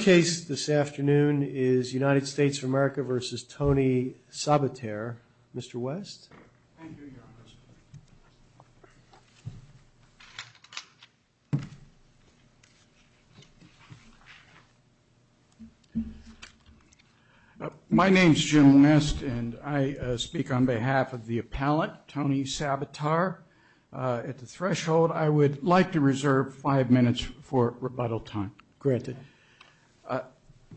case this afternoon is United States of America versus Tony Sabater. Mr. West. My name's Jim West and I speak on behalf of the appellate, Tony Sabater. At the threshold, I would like to reserve five minutes for rebuttal time. Granted.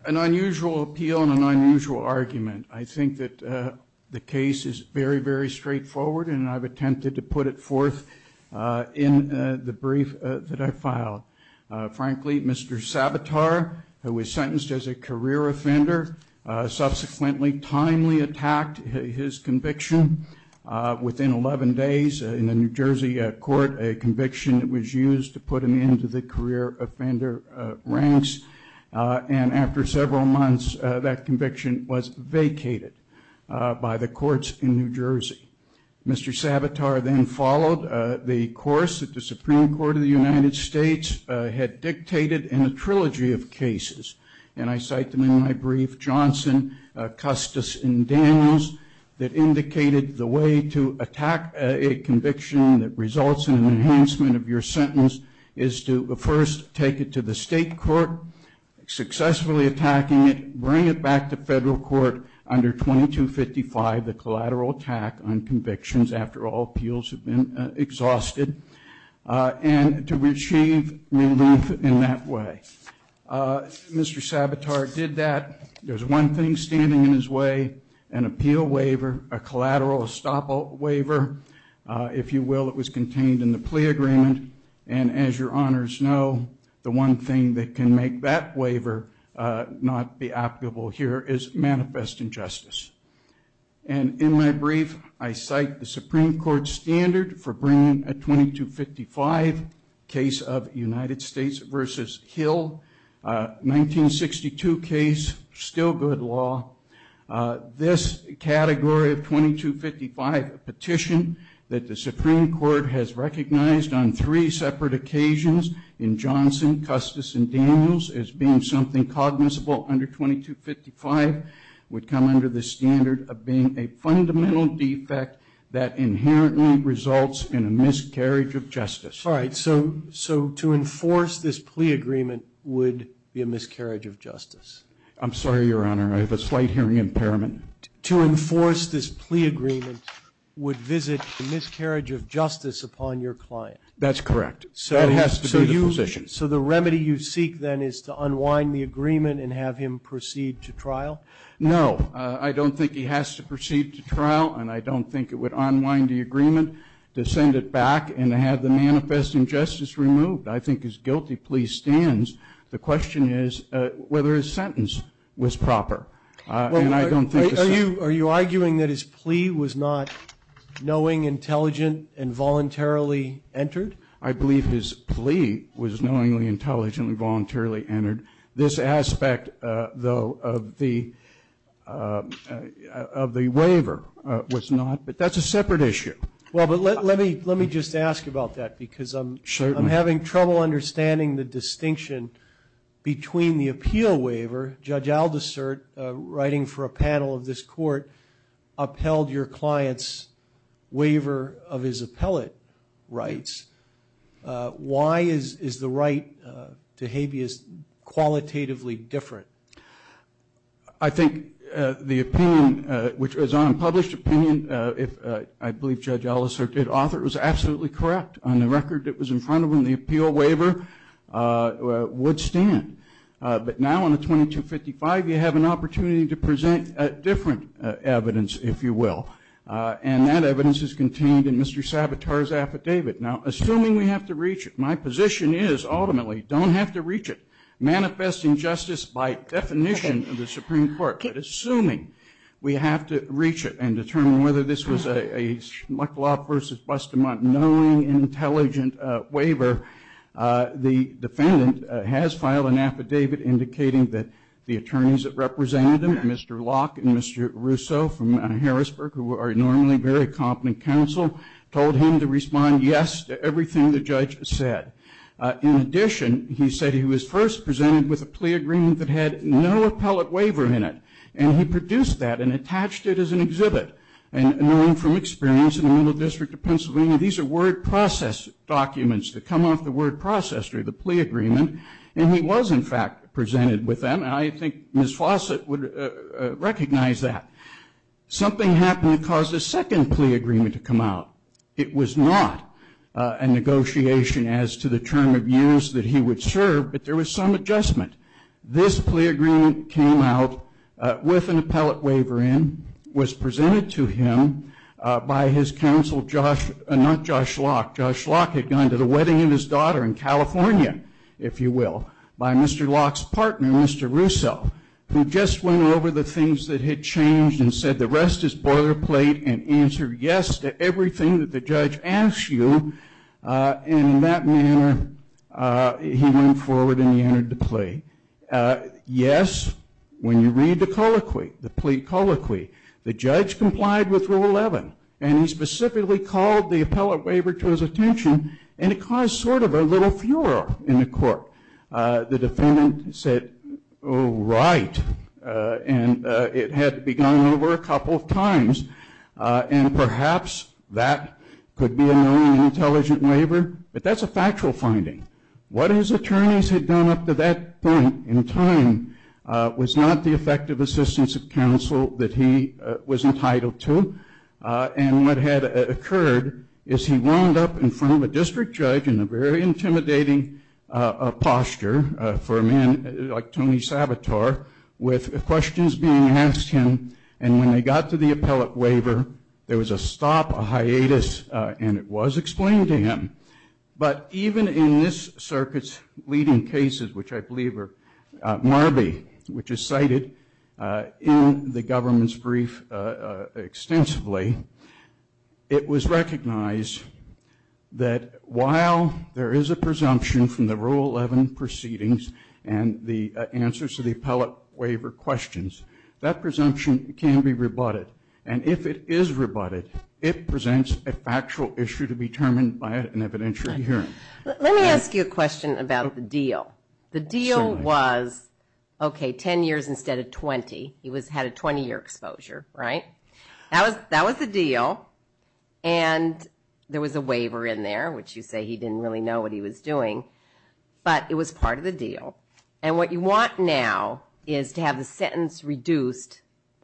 An unusual appeal and an unusual argument. I think that the case is very, very straightforward and I've attempted to put it forth in the brief that I filed. Frankly, Mr. Sabater, who was sentenced as a career offender, subsequently timely attacked his conviction. Within 11 days, in the New Jersey court, a conviction was used to put him into the career offender ranks. And after several months, that conviction was vacated by the courts in New Jersey. Mr. Sabater then followed the course that the Supreme Court of the United States had dictated in a trilogy of cases. And I cite them in my brief. Johnson, Custis, and Daniels, that indicated the way to attack a conviction that results in an enhancement of your sentence is to first take it to the state court, successfully attacking it, bring it back to federal court under 2255, the collateral attack on convictions after all appeals have been exhausted, and to receive relief in that way. Mr. Sabater did that. There's one thing standing in his way, an appeal waiver, a collateral estoppel waiver. If you will, it was contained in the plea agreement. And as your honors know, the one thing that can make that waiver not be applicable here is manifest injustice. And in my brief, I cite the Supreme Court standard for bringing a 2255 case of United States versus Hill, 1962 case, still good law. This category of 2255 petition that the Supreme Court has recognized on three separate occasions in Johnson, Custis, and Daniels as being something cognizable under 2255 would come under the standard of being a fundamental defect that inherently results in a miscarriage of justice. All right. So to enforce this plea agreement would be a miscarriage of justice. I'm sorry, Your Honor. I have a slight hearing impairment. To enforce this plea agreement would visit a miscarriage of justice upon your client. That's correct. That has to be the position. So the remedy you seek then is to unwind the agreement and have him proceed to trial? No. I don't think he has to proceed to trial. And I don't think it would unwind the agreement to send it back and have the manifest injustice removed. I think his guilty plea stands. The question is whether his sentence was proper. Are you arguing that his plea was not knowing, intelligent, and voluntarily entered? I believe his plea was knowingly, intelligently, voluntarily entered. This aspect, though, of the waiver was not, but that's a separate issue. Well, but let me just ask about that because I'm having trouble understanding the distinction between the appeal waiver. Judge Aldersert, writing for a panel of this court, upheld your client's waiver of his appellate rights. Why is the right to habeas qualitatively different? I think the opinion, which was an unpublished opinion, I believe Judge Aldersert did author, was absolutely correct. On the record, it was in front of him. The appeal waiver would stand. But now, on the 2255, you have an opportunity to present a different evidence, if you will. And that evidence is contained in Mr. Savitar's affidavit. Now, assuming we have to reach it, my position is, ultimately, don't have to reach it. Manifest injustice by definition of the Supreme Court, but assuming we have to reach it and determine whether this was a that the attorneys that represented him, Mr. Locke and Mr. Russo from Harrisburg, who are normally very competent counsel, told him to respond yes to everything the judge said. In addition, he said he was first presented with a plea agreement that had no appellate waiver in it. And he produced that and attached it as an exhibit. And knowing from experience in the Middle District of Pennsylvania, these are word process documents that come off the word process And he was, in fact, presented with them. And I think Ms. Fawcett would recognize that. Something happened that caused a second plea agreement to come out. It was not a negotiation as to the term of use that he would serve, but there was some adjustment. This plea agreement came out with an appellate waiver in, was presented to him by his counsel, not Josh Locke. Josh Locke had gone to the wedding of his daughter in California, if you will, by Mr. Locke's partner, Mr. Russo, who just went over the things that had changed and said the rest is boilerplate and answered yes to everything that the judge asked you. And in that manner, he went forward and he entered the plea. Yes, when you read the colloquy, the plea colloquy, the judge complied with Rule 11. And he specifically called the appellate waiver to his attention, and it caused sort of a little furor in the court. The defendant said, oh, right. And it had begun over a couple of times, and perhaps that could be a known intelligent waiver. But that's a factual finding. What his attorneys had done up to that point in time was not the effective assistance of counsel that he was entitled to. And what had occurred is he wound up in front of a district judge in a very intimidating posture for a man like Tony Sabator, with questions being asked him. And when they got to the appellate waiver, there was a stop, a hiatus, and it was explained to him. But even in this circuit's leading cases, which I believe are MARBI, which is cited in the government's brief extensively, it was recognized that while there is a presumption from the Rule 11 proceedings and the answers to the appellate waiver questions, that presumption can be rebutted. And if it is rebutted, it presents a factual issue to be determined by an evidentiary hearing. Let me ask you a question about the deal. The deal was, okay, 10 years instead of 20. He had a 20-year exposure, right? That was the deal. And there was a waiver in there, which you say he didn't really know what he was doing. But it was part of the deal. And what you want now is to have the sentence reduced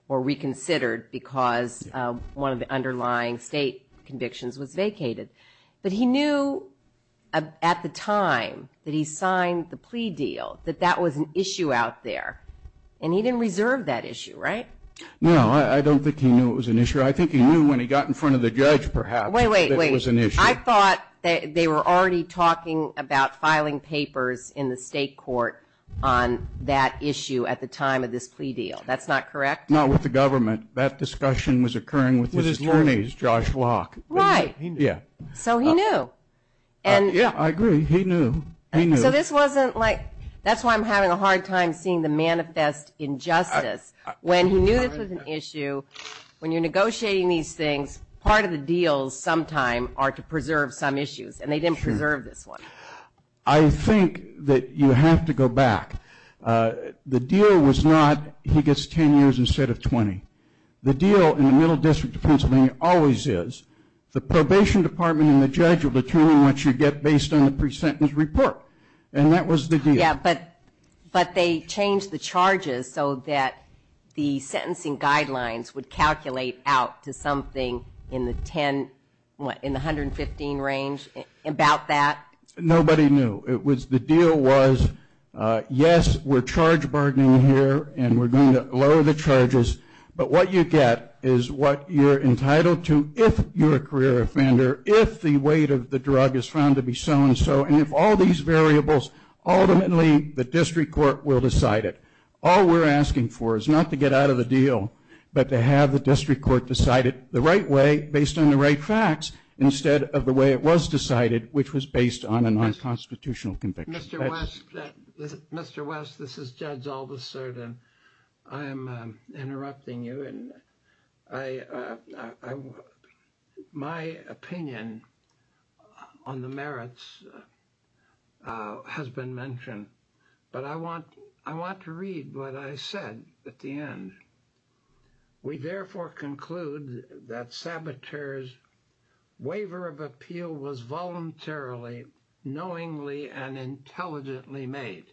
or reconsidered because one of the underlying state convictions was vacated. But he knew at the time that he signed the plea deal that that was an issue out there, and he didn't reserve that issue, right? No, I don't think he knew it was an issue. I think he knew when he got in front of the judge, perhaps, that it was an issue. I thought they were already talking about filing papers in the state court on that issue at the time of this plea deal. That's not correct? Not with the government. That discussion was occurring with his attorneys, Josh Locke. Right. Yeah. So he knew. Yeah, I agree. He knew. He knew. So this wasn't like ñ that's why I'm having a hard time seeing the manifest injustice. When he knew this was an issue, when you're negotiating these things, part of the deals sometime are to preserve some issues, and they didn't preserve this one. I think that you have to go back. The deal was not he gets 10 years instead of 20. The deal in the Middle District of Pennsylvania always is the probation department and the judge will determine what you get based on the pre-sentence report, and that was the deal. Yeah, but they changed the charges so that the sentencing guidelines would calculate out to something in the 115 range about that? Nobody knew. The deal was, yes, we're charge bargaining here and we're going to lower the charges, but what you get is what you're entitled to if you're a career offender, if the weight of the drug is found to be so-and-so, and if all these variables, ultimately the district court will decide it. All we're asking for is not to get out of the deal, but to have the district court decide it the right way based on the right facts instead of the way it was decided, which was based on a non-constitutional conviction. Mr. West, this is Judge Aldous Sertin. I am interrupting you, and my opinion on the merits has been mentioned, but I want to read what I said at the end. We therefore conclude that saboteur's waiver of appeal was voluntarily, knowingly, and intelligently made.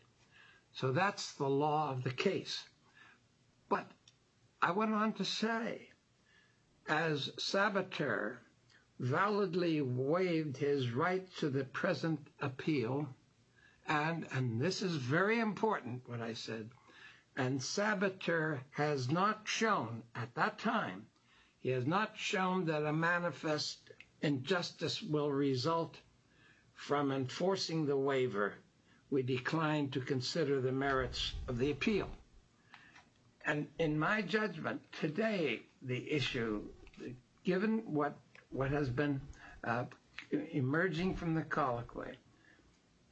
So that's the law of the case. But I went on to say, as saboteur validly waived his right to the present appeal, and this is very important, what I said, and saboteur has not shown at that time, he has not shown that a manifest injustice will result from enforcing the waiver, we decline to consider the merits of the appeal. And in my judgment, today the issue, given what has been emerging from the colloquy,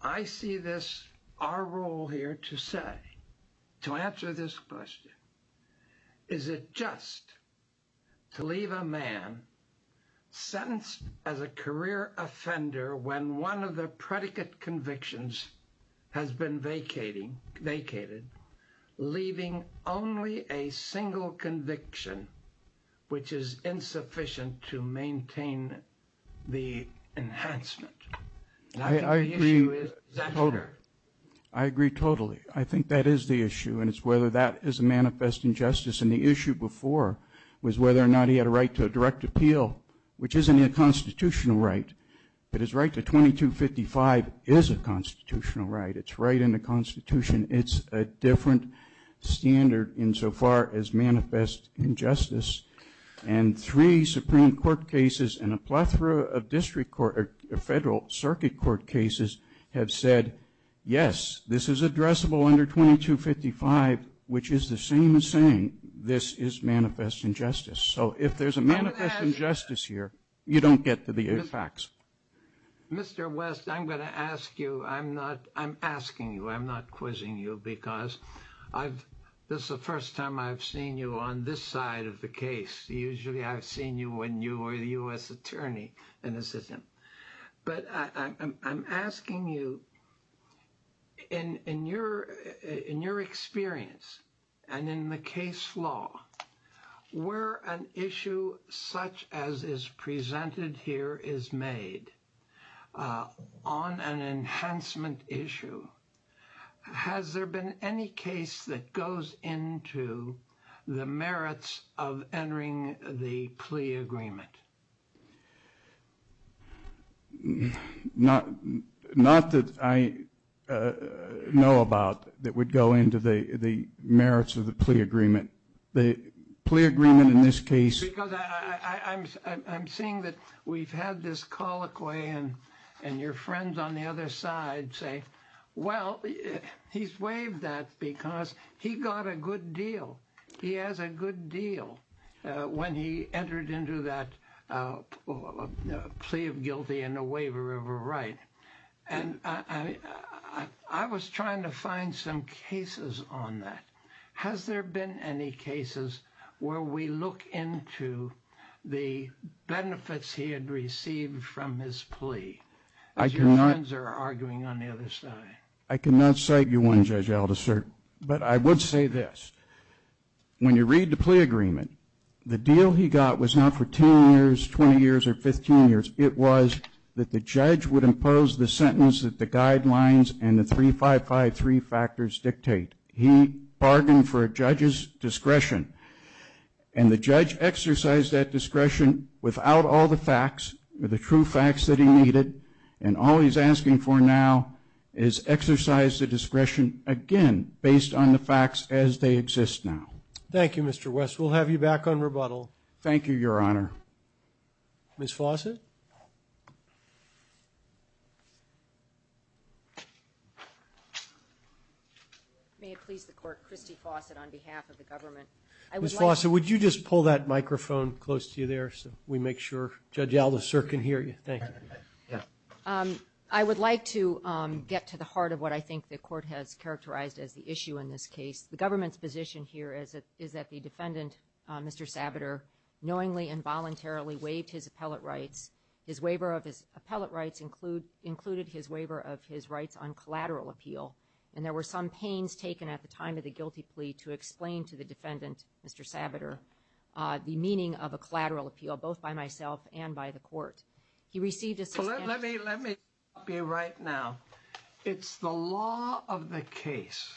I see this, our role here to say, to answer this question, is it just to leave a man sentenced as a career offender when one of the predicate convictions has been vacated, leaving only a single conviction, which is insufficient to maintain the enhancement? I agree totally. I think that is the issue, and it's whether that is a manifest injustice. And the issue before was whether or not he had a right to a direct appeal, which isn't a constitutional right. But his right to 2255 is a constitutional right. It's right in the Constitution. It's a different standard insofar as manifest injustice. And three Supreme Court cases and a plethora of district court, or federal circuit court cases have said, yes, this is addressable under 2255, which is the same as saying this is manifest injustice. So if there's a manifest injustice here, you don't get to the facts. Mr. West, I'm going to ask you, I'm asking you, I'm not quizzing you, because this is the first time I've seen you on this side of the case. Usually I've seen you when you were the U.S. attorney in the system. But I'm asking you, in your experience and in the case law, where an issue such as is presented here is made on an enhancement issue, has there been any case that goes into the merits of entering the plea agreement? Not that I know about that would go into the merits of the plea agreement. The plea agreement in this case. Because I'm seeing that we've had this colloquy, and your friends on the other side say, well, he's waived that because he got a good deal. He has a good deal when he entered into that plea of guilty and a waiver of a right. And I was trying to find some cases on that. Has there been any cases where we look into the benefits he had received from his plea? As your friends are arguing on the other side. I cannot cite you one, Judge Aldous, sir. But I would say this. When you read the plea agreement, the deal he got was not for 10 years, 20 years, or 15 years. It was that the judge would impose the sentence that the guidelines and the 3553 factors dictate. He bargained for a judge's discretion. And the judge exercised that discretion without all the facts, the true facts that he needed. And all he's asking for now is exercise the discretion, again, based on the facts as they exist now. Thank you, Mr. West. We'll have you back on rebuttal. Thank you, Your Honor. Ms. Fawcett? May it please the court, Christy Fawcett on behalf of the government. Ms. Fawcett, would you just pull that microphone close to you there so we make sure Judge Aldous, sir, can hear you? Thank you. I would like to get to the heart of what I think the court has characterized as the issue in this case. The government's position here is that the defendant, Mr. Sabater, knowingly and voluntarily waived his appellate rights. His waiver of his appellate rights included his waiver of his rights on collateral appeal. And there were some pains taken at the time of the guilty plea to explain to the defendant, Mr. Sabater, the meaning of a collateral appeal, both by myself and by the court. He received a suspended sentence. Let me stop you right now. It's the law of the case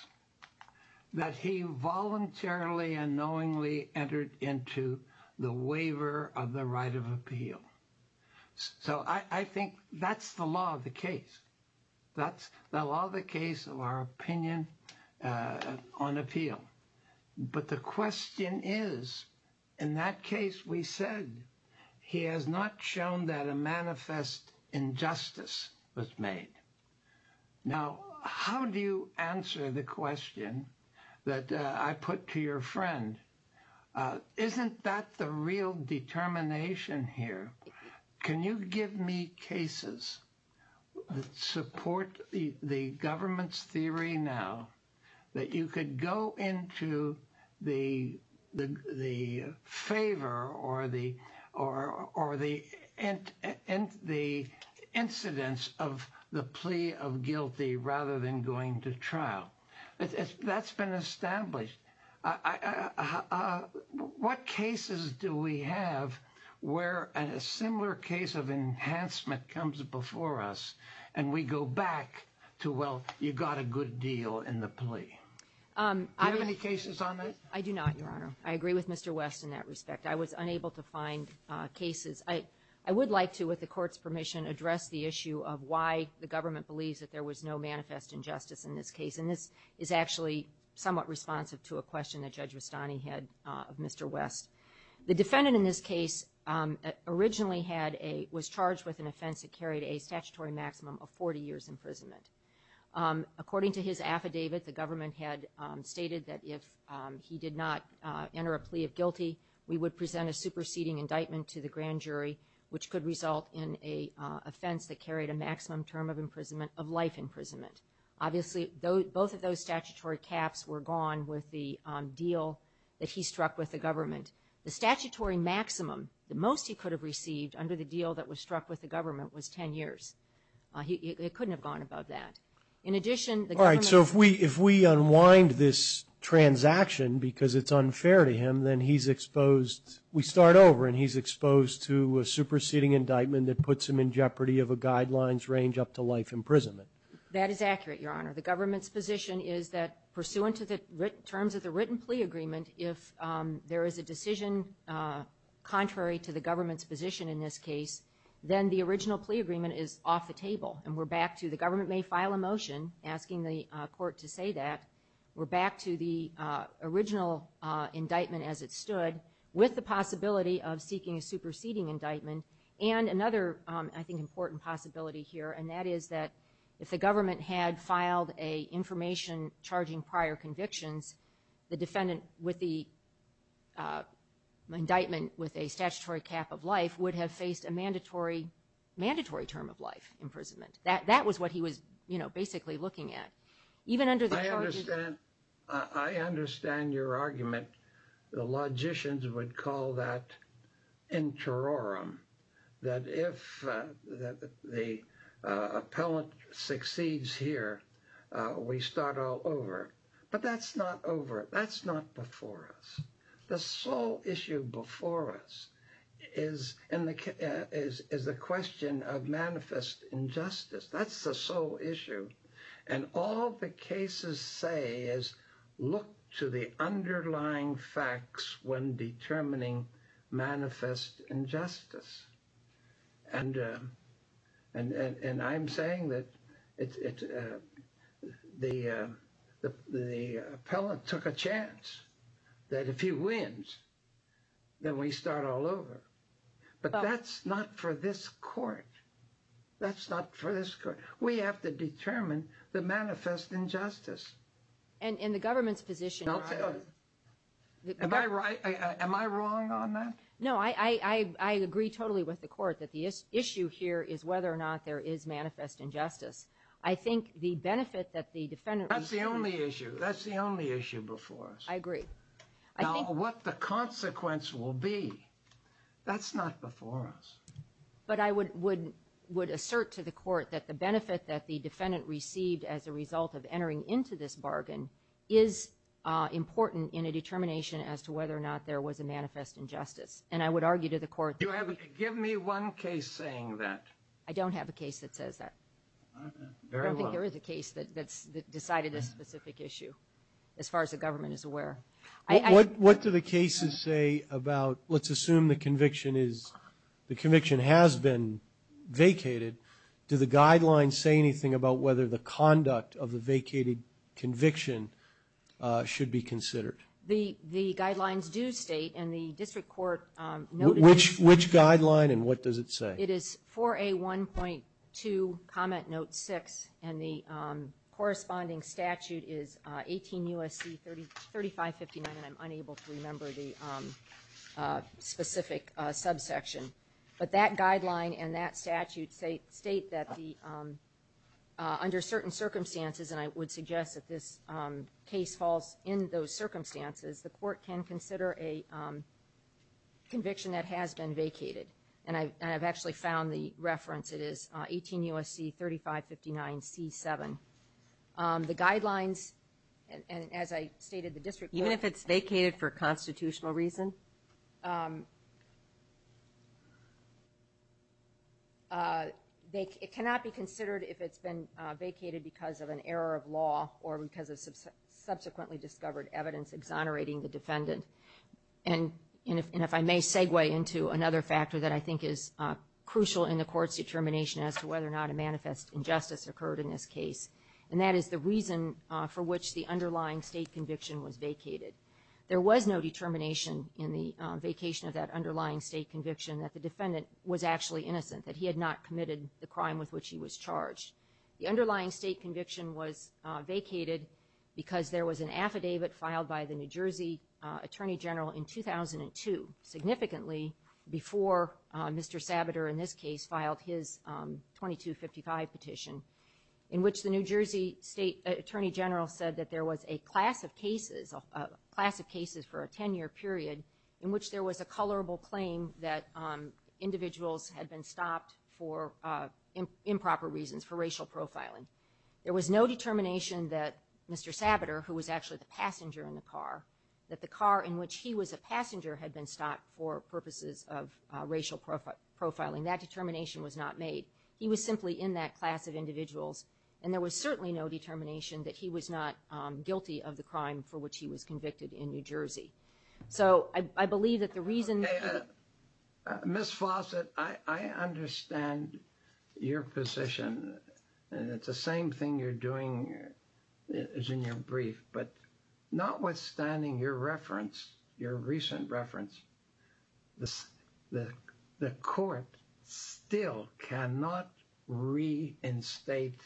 that he voluntarily and knowingly entered into the waiver of the right of appeal. So I think that's the law of the case. That's the law of the case of our opinion on appeal. But the question is, in that case, we said he has not shown that a manifest injustice was made. Now, how do you answer the question that I put to your friend? Isn't that the real determination here? Can you give me cases that support the government's theory now that you could go into the favor or the incidents of the plea of guilty rather than going to trial? That's been established. What cases do we have where a similar case of enhancement comes before us and we go back to, well, you got a good deal in the plea? Do you have any cases on that? I do not, Your Honor. I agree with Mr. West in that respect. I was unable to find cases. I would like to, with the court's permission, address the issue of why the government believes that there was no manifest injustice in this case. And this is actually somewhat responsive to a question that Judge Rustani had of Mr. West. The defendant in this case originally was charged with an offense that carried a statutory maximum of 40 years imprisonment. According to his affidavit, the government had stated that if he did not enter a plea of guilty, we would present a superseding indictment to the grand jury, which could result in an offense that carried a maximum term of imprisonment of life imprisonment. Obviously, both of those statutory caps were gone with the deal that he struck with the government. The statutory maximum, the most he could have received under the deal that was struck with the government, was 10 years. It couldn't have gone above that. In addition, the government – All right, so if we unwind this transaction because it's unfair to him, then he's exposed – we start over and he's exposed to a superseding indictment that puts him in jeopardy of a guidelines range up to life imprisonment. That is accurate, Your Honor. The government's position is that pursuant to the terms of the written plea agreement, if there is a decision contrary to the government's position in this case, then the original plea agreement is off the table. And we're back to the government may file a motion asking the court to say that. We're back to the original indictment as it stood with the possibility of seeking a superseding indictment. And another, I think, important possibility here, and that is that if the government had filed a information charging prior convictions, the defendant with the indictment with a statutory cap of life would have faced a mandatory term of life imprisonment. That was what he was, you know, basically looking at. I understand. I understand your argument. The logicians would call that interorum, that if the appellant succeeds here, we start all over. But that's not over. That's not before us. The sole issue before us is the question of manifest injustice. That's the sole issue. And all the cases say is look to the underlying facts when determining manifest injustice. And and I'm saying that it's the the appellant took a chance that if he wins, then we start all over. But that's not for this court. That's not for this court. We have to determine the manifest injustice. And in the government's position. Am I right? Am I wrong on that? No, I agree totally with the court that the issue here is whether or not there is manifest injustice. I think the benefit that the defendant. That's the only issue. That's the only issue before us. I agree. I think what the consequence will be. That's not before us. But I would would would assert to the court that the benefit that the defendant received as a result of entering into this bargain is important in a determination as to whether or not there was a manifest injustice. And I would argue to the court. Give me one case saying that. I don't have a case that says that. I don't think there is a case that that's decided this specific issue. As far as the government is aware. What do the cases say about let's assume the conviction is the conviction has been vacated. Do the guidelines say anything about whether the conduct of the vacated conviction should be considered? The the guidelines do state in the district court. Which which guideline and what does it say? It is for a one point two comment note six and the corresponding statute is 18 U.S.C. thirty thirty five fifty nine and I'm unable to remember the specific subsection. But that guideline and that statute say state that the under certain circumstances. And I would suggest that this case falls in those circumstances. The court can consider a conviction that has been vacated. And I've actually found the reference it is 18 U.S.C. thirty five fifty nine C7. The guidelines and as I stated the district. Even if it's vacated for constitutional reason. They cannot be considered if it's been vacated because of an error of law or because of subsequently discovered evidence exonerating the defendant. And if I may segue into another factor that I think is crucial in the court's determination as to whether or not a manifest injustice occurred in this case. And that is the reason for which the underlying state conviction was vacated. There was no determination in the vacation of that underlying state conviction that the defendant was actually innocent that he had not committed the crime with which he was charged. The underlying state conviction was vacated because there was an affidavit filed by the New Jersey Attorney General in 2002. Significantly before Mr. Sabater in this case filed his twenty two fifty five petition. In which the New Jersey State Attorney General said that there was a class of cases of class of cases for a 10 year period. In which there was a colorable claim that individuals had been stopped for improper reasons for racial profiling. There was no determination that Mr. Sabater who was actually the passenger in the car. That the car in which he was a passenger had been stopped for purposes of racial profiling. That determination was not made. He was simply in that class of individuals. And there was certainly no determination that he was not guilty of the crime for which he was convicted in New Jersey. So I believe that the reason. Ms. Fawcett, I understand your position. And it's the same thing you're doing as in your brief. But notwithstanding your reference, your recent reference. The court still cannot reinstate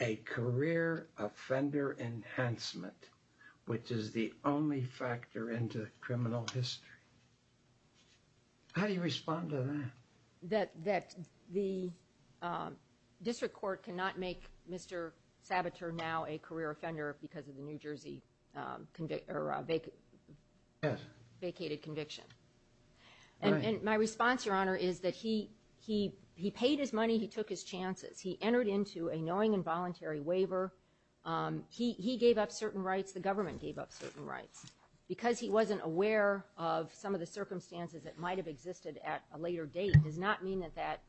a career offender enhancement. Which is the only factor into criminal history. How do you respond to that? That the district court cannot make Mr. Sabater now a career offender because of the New Jersey vacated conviction. And my response, your honor, is that he paid his money, he took his chances. He entered into a knowing and voluntary waiver. He gave up certain rights. The government gave up certain rights. Because he wasn't aware of some of the circumstances that might have existed at a later date. Does not mean that that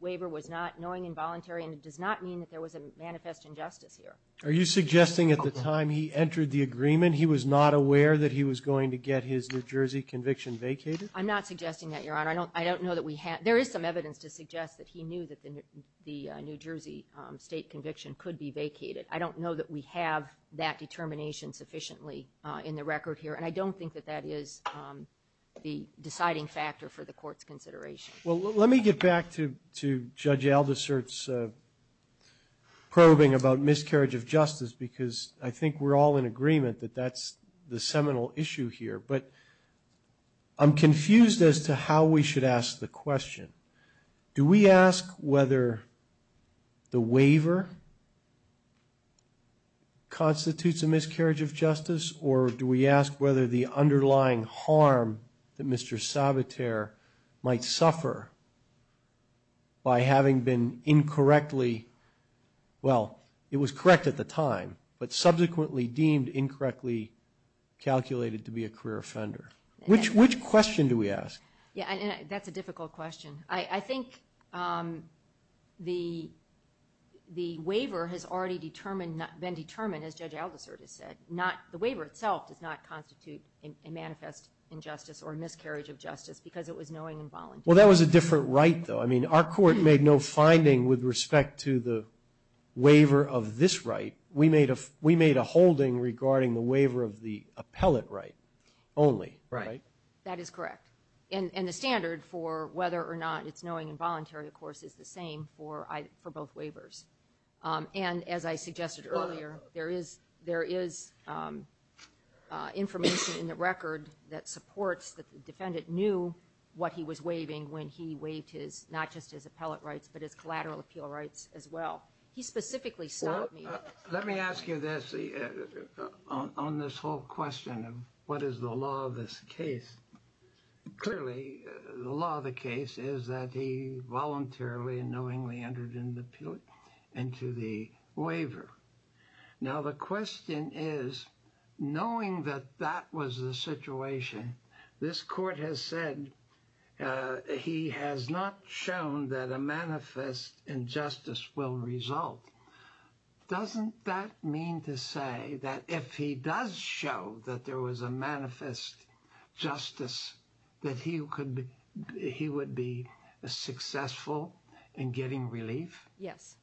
waiver was not knowing and voluntary. And it does not mean that there was a manifest injustice here. Are you suggesting at the time he entered the agreement he was not aware that he was going to get his New Jersey conviction vacated? I'm not suggesting that, your honor. I don't know that we had. There is some evidence to suggest that he knew that the New Jersey state conviction could be vacated. I don't know that we have that determination sufficiently in the record here. And I don't think that that is the deciding factor for the court's consideration. Well, let me get back to Judge Aldersert's probing about miscarriage of justice. Because I think we're all in agreement that that's the seminal issue here. But I'm confused as to how we should ask the question. Do we ask whether the waiver constitutes a miscarriage of justice? Or do we ask whether the underlying harm that Mr. Sabater might suffer by having been incorrectly, well, it was correct at the time. But subsequently deemed incorrectly calculated to be a career offender. Which question do we ask? Yeah, and that's a difficult question. I think the waiver has already been determined, as Judge Aldersert has said. The waiver itself does not constitute a manifest injustice or miscarriage of justice because it was knowing and voluntary. Well, that was a different right, though. I mean, our court made no finding with respect to the waiver of this right. We made a holding regarding the waiver of the appellate right only, right? That is correct. And the standard for whether or not it's knowing and voluntary, of course, is the same for both waivers. And as I suggested earlier, there is information in the record that supports that the defendant knew what he was waiving when he waived his, not just his appellate rights, but his collateral appeal rights as well. He specifically stopped me. Let me ask you this on this whole question of what is the law of this case? Clearly, the law of the case is that he voluntarily and knowingly entered into the waiver. Now, the question is, knowing that that was the situation, this court has said he has not shown that a manifest injustice will result. Doesn't that mean to say that if he does show that there was a manifest justice, that he would be successful in getting relief? Yes,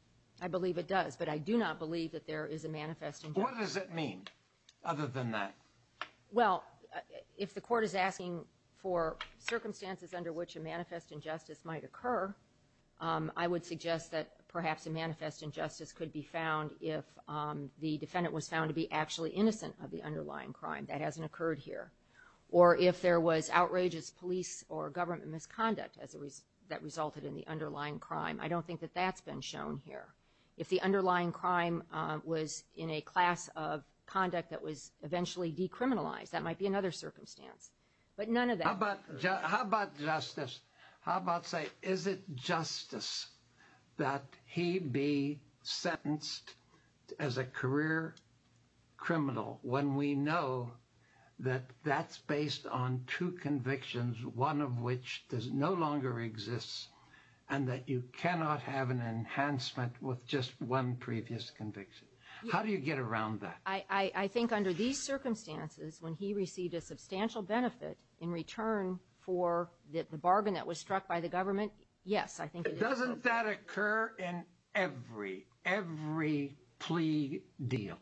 I believe it does, but I do not believe that there is a manifest injustice. What does it mean other than that? Well, if the court is asking for circumstances under which a manifest injustice might occur, I would suggest that perhaps a manifest injustice could be found if the defendant was found to be actually innocent of the underlying crime. That hasn't occurred here. Or if there was outrageous police or government misconduct that resulted in the underlying crime. I don't think that that's been shown here. If the underlying crime was in a class of conduct that was eventually decriminalized, that might be another circumstance. But none of that. How about justice? How about say, is it justice that he be sentenced as a career criminal when we know that that's based on two convictions, one of which no longer exists and that you cannot have an enhancement with just one previous conviction? How do you get around that? I think under these circumstances, when he received a substantial benefit in return for the bargain that was struck by the government, yes, I think it is. Doesn't that occur in every plea deal?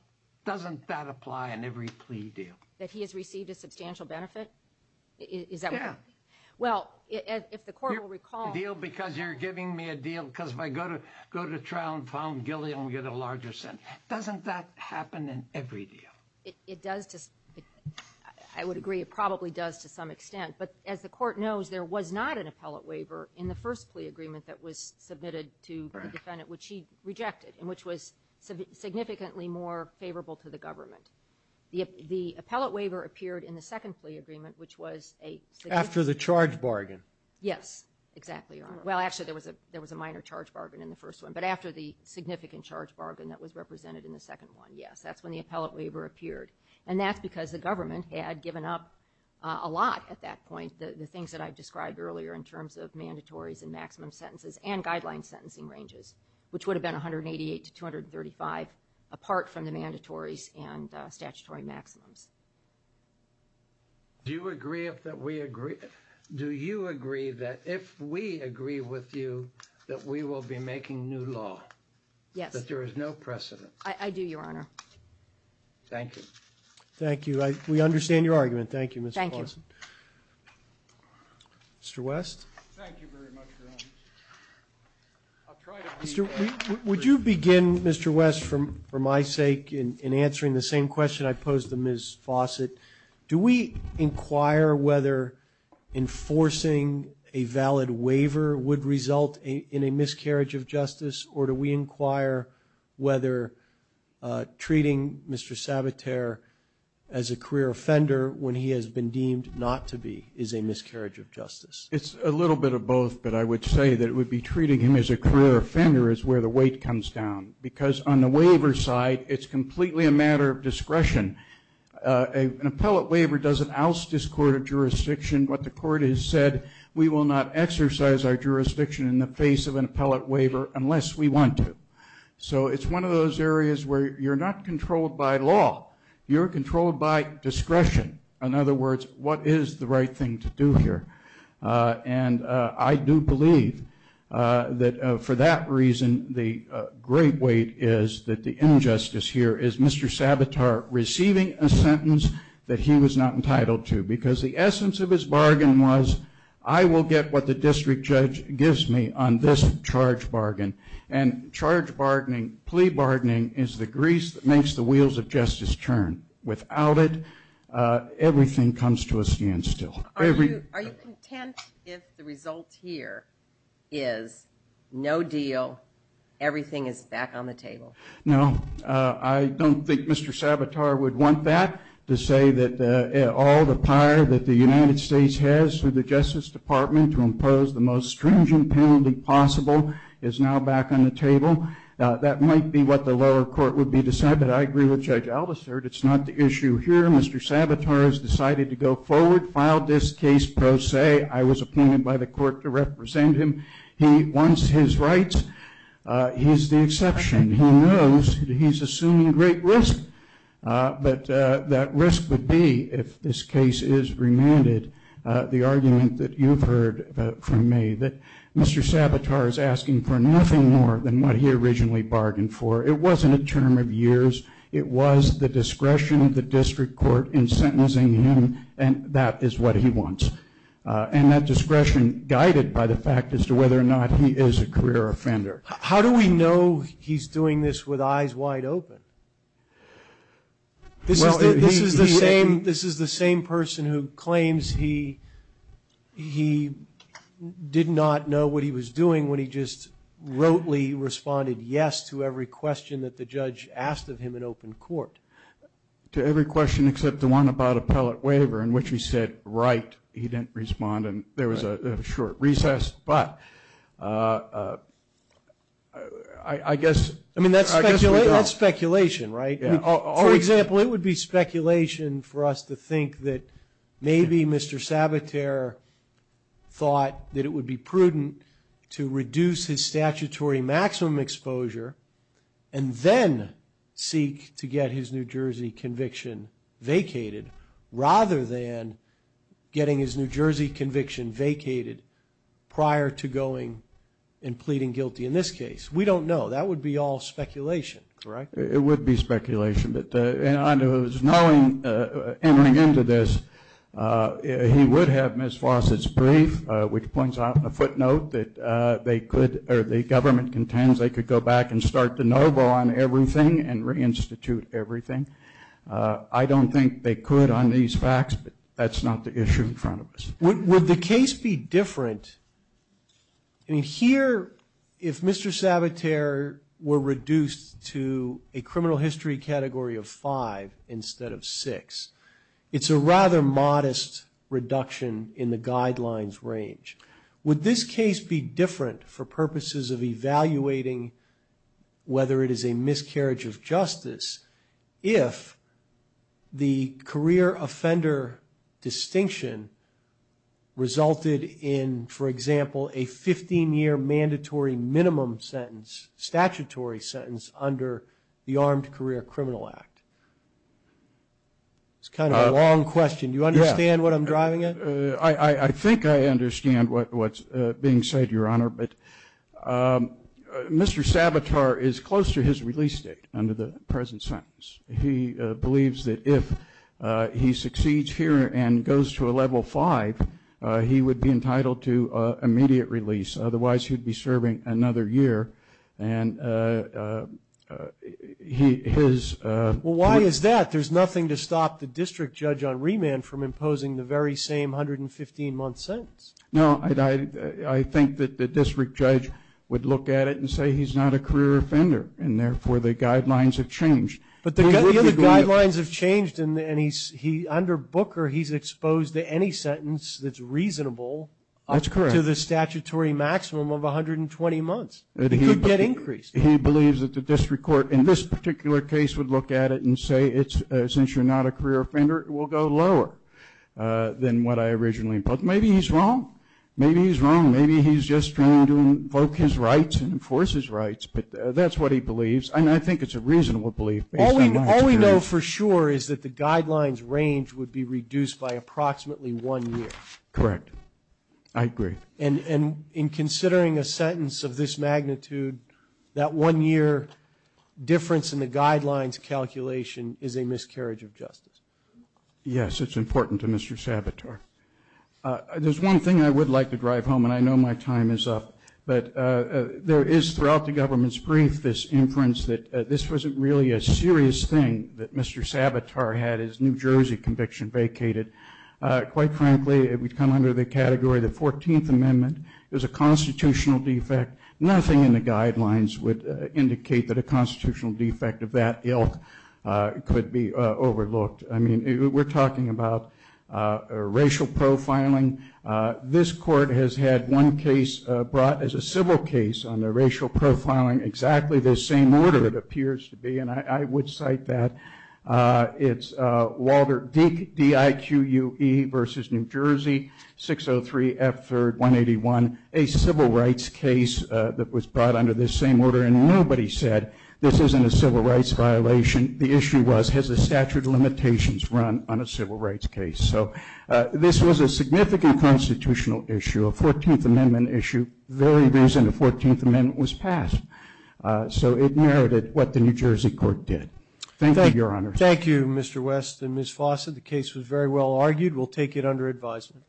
Doesn't that apply in every plea deal? That he has received a substantial benefit? Yeah. Well, if the court will recall. A deal because you're giving me a deal because if I go to trial and found guilty, I'm going to get a larger sentence. Doesn't that happen in every deal? It does. I would agree it probably does to some extent. But as the court knows, there was not an appellate waiver in the first plea agreement that was submitted to the defendant, which he rejected, and which was significantly more favorable to the government. The appellate waiver appeared in the second plea agreement, which was a significant... After the charge bargain. Yes, exactly, Your Honor. Well, actually, there was a minor charge bargain in the first one. But after the significant charge bargain that was represented in the second one, yes. That's when the appellate waiver appeared. And that's because the government had given up a lot at that point, the things that I described earlier in terms of mandatories and maximum sentences and guideline sentencing ranges, which would have been 188 to 235 apart from the mandatories and statutory maximums. Do you agree that if we agree with you that we will be making new law? Yes. That there is no precedent? I do, Your Honor. Thank you. Thank you. We understand your argument. Thank you, Mr. Paulson. Thank you. Mr. West? Thank you very much, Your Honor. Would you begin, Mr. West, for my sake, in answering the same question I posed to Ms. Fawcett? Do we inquire whether enforcing a valid waiver would result in a miscarriage of justice, or do we inquire whether treating Mr. Sabater as a career offender when he has been deemed not to be is a miscarriage of justice? It's a little bit of both, but I would say that it would be treating him as a career offender is where the weight comes down, because on the waiver side, it's completely a matter of discretion. An appellate waiver doesn't oust this court of jurisdiction. What the court has said, we will not exercise our jurisdiction in the face of an appellate waiver unless we want to. So it's one of those areas where you're not controlled by law. You're controlled by discretion. In other words, what is the right thing to do here? And I do believe that for that reason, the great weight is that the injustice here is Mr. Sabater receiving a sentence that he was not entitled to, because the essence of his bargain was, I will get what the district judge gives me on this charge bargain. And charge bargaining, plea bargaining, is the grease that makes the wheels of justice turn. And without it, everything comes to a standstill. Are you content if the result here is no deal, everything is back on the table? No. I don't think Mr. Sabater would want that, to say that all the power that the United States has through the Justice Department to impose the most stringent penalty possible is now back on the table. That might be what the lower court would be deciding, but I agree with Judge Aldister that it's not the issue here. Mr. Sabater has decided to go forward, filed this case pro se. I was appointed by the court to represent him. He wants his rights. He's the exception. He knows that he's assuming great risk. But that risk would be, if this case is remanded, the argument that you've heard from me, that Mr. Sabater is asking for nothing more than what he originally bargained for. It wasn't a term of years. It was the discretion of the district court in sentencing him, and that is what he wants. And that discretion guided by the fact as to whether or not he is a career offender. How do we know he's doing this with eyes wide open? Well, this is the same person who claims he did not know what he was doing when he just rotely responded yes to every question that the judge asked of him in open court. To every question except the one about appellate waiver in which he said, right, he didn't respond, and there was a short recess, but I guess we don't. I mean, that's speculation, right? For example, it would be speculation for us to think that maybe Mr. Sabater thought that it would be prudent to reduce his statutory maximum exposure and then seek to get his New Jersey conviction vacated rather than getting his New Jersey conviction vacated prior to going and pleading guilty in this case. We don't know. That would be all speculation, correct? It would be speculation. But knowing, entering into this, he would have Ms. Fawcett's brief, which points out in a footnote that they could, or the government contends, they could go back and start de novo on everything and reinstitute everything. I don't think they could on these facts, but that's not the issue in front of us. Would the case be different? I mean, here, if Mr. Sabater were reduced to a criminal history category of five instead of six, it's a rather modest reduction in the guidelines range. Would this case be different for purposes of evaluating whether it is a miscarriage of justice if the career offender distinction resulted in, for example, a 15-year mandatory minimum sentence, statutory sentence under the Armed Career Criminal Act? It's kind of a long question. Do you understand what I'm driving at? I think I understand what's being said, Your Honor. But Mr. Sabater is close to his release date under the present sentence. He believes that if he succeeds here and goes to a level five, he would be entitled to immediate release. Otherwise, he would be serving another year. And his ---- Well, why is that? There's nothing to stop the district judge on remand from imposing the very same 115-month sentence. No, I think that the district judge would look at it and say he's not a career offender, and therefore the guidelines have changed. But the guidelines have changed, and under Booker, he's exposed to any sentence that's reasonable. That's correct. To the statutory maximum of 120 months. It could get increased. He believes that the district court in this particular case would look at it and say, since you're not a career offender, it will go lower than what I originally imposed. Maybe he's wrong. Maybe he's wrong. Maybe he's just trying to invoke his rights and enforce his rights. But that's what he believes. And I think it's a reasonable belief. All we know for sure is that the guidelines range would be reduced by approximately one year. Correct. I agree. And in considering a sentence of this magnitude, that one-year difference in the guidelines calculation is a miscarriage of justice. Yes, it's important to Mr. Savitar. There's one thing I would like to drive home, and I know my time is up, but there is, throughout the government's brief, this inference that this wasn't really a serious thing that Mr. Savitar had his New Jersey conviction vacated. Quite frankly, it would come under the category of the 14th Amendment. It was a constitutional defect. Nothing in the guidelines would indicate that a constitutional defect of that ilk could be overlooked. I mean, we're talking about racial profiling. This court has had one case brought as a civil case on the racial profiling, exactly the same order it appears to be, and I would cite that. It's Walter Deak, D-I-Q-U-E, v. New Jersey, 603 F. 3rd, 181, a civil rights case that was brought under this same order, and nobody said, this isn't a civil rights violation. The issue was, has the statute of limitations run on a civil rights case? So this was a significant constitutional issue, a 14th Amendment issue, the very reason the 14th Amendment was passed. So it merited what the New Jersey court did. Thank you, Your Honor. Thank you, Mr. West and Ms. Fawcett. The case was very well argued. We'll take it under advisement.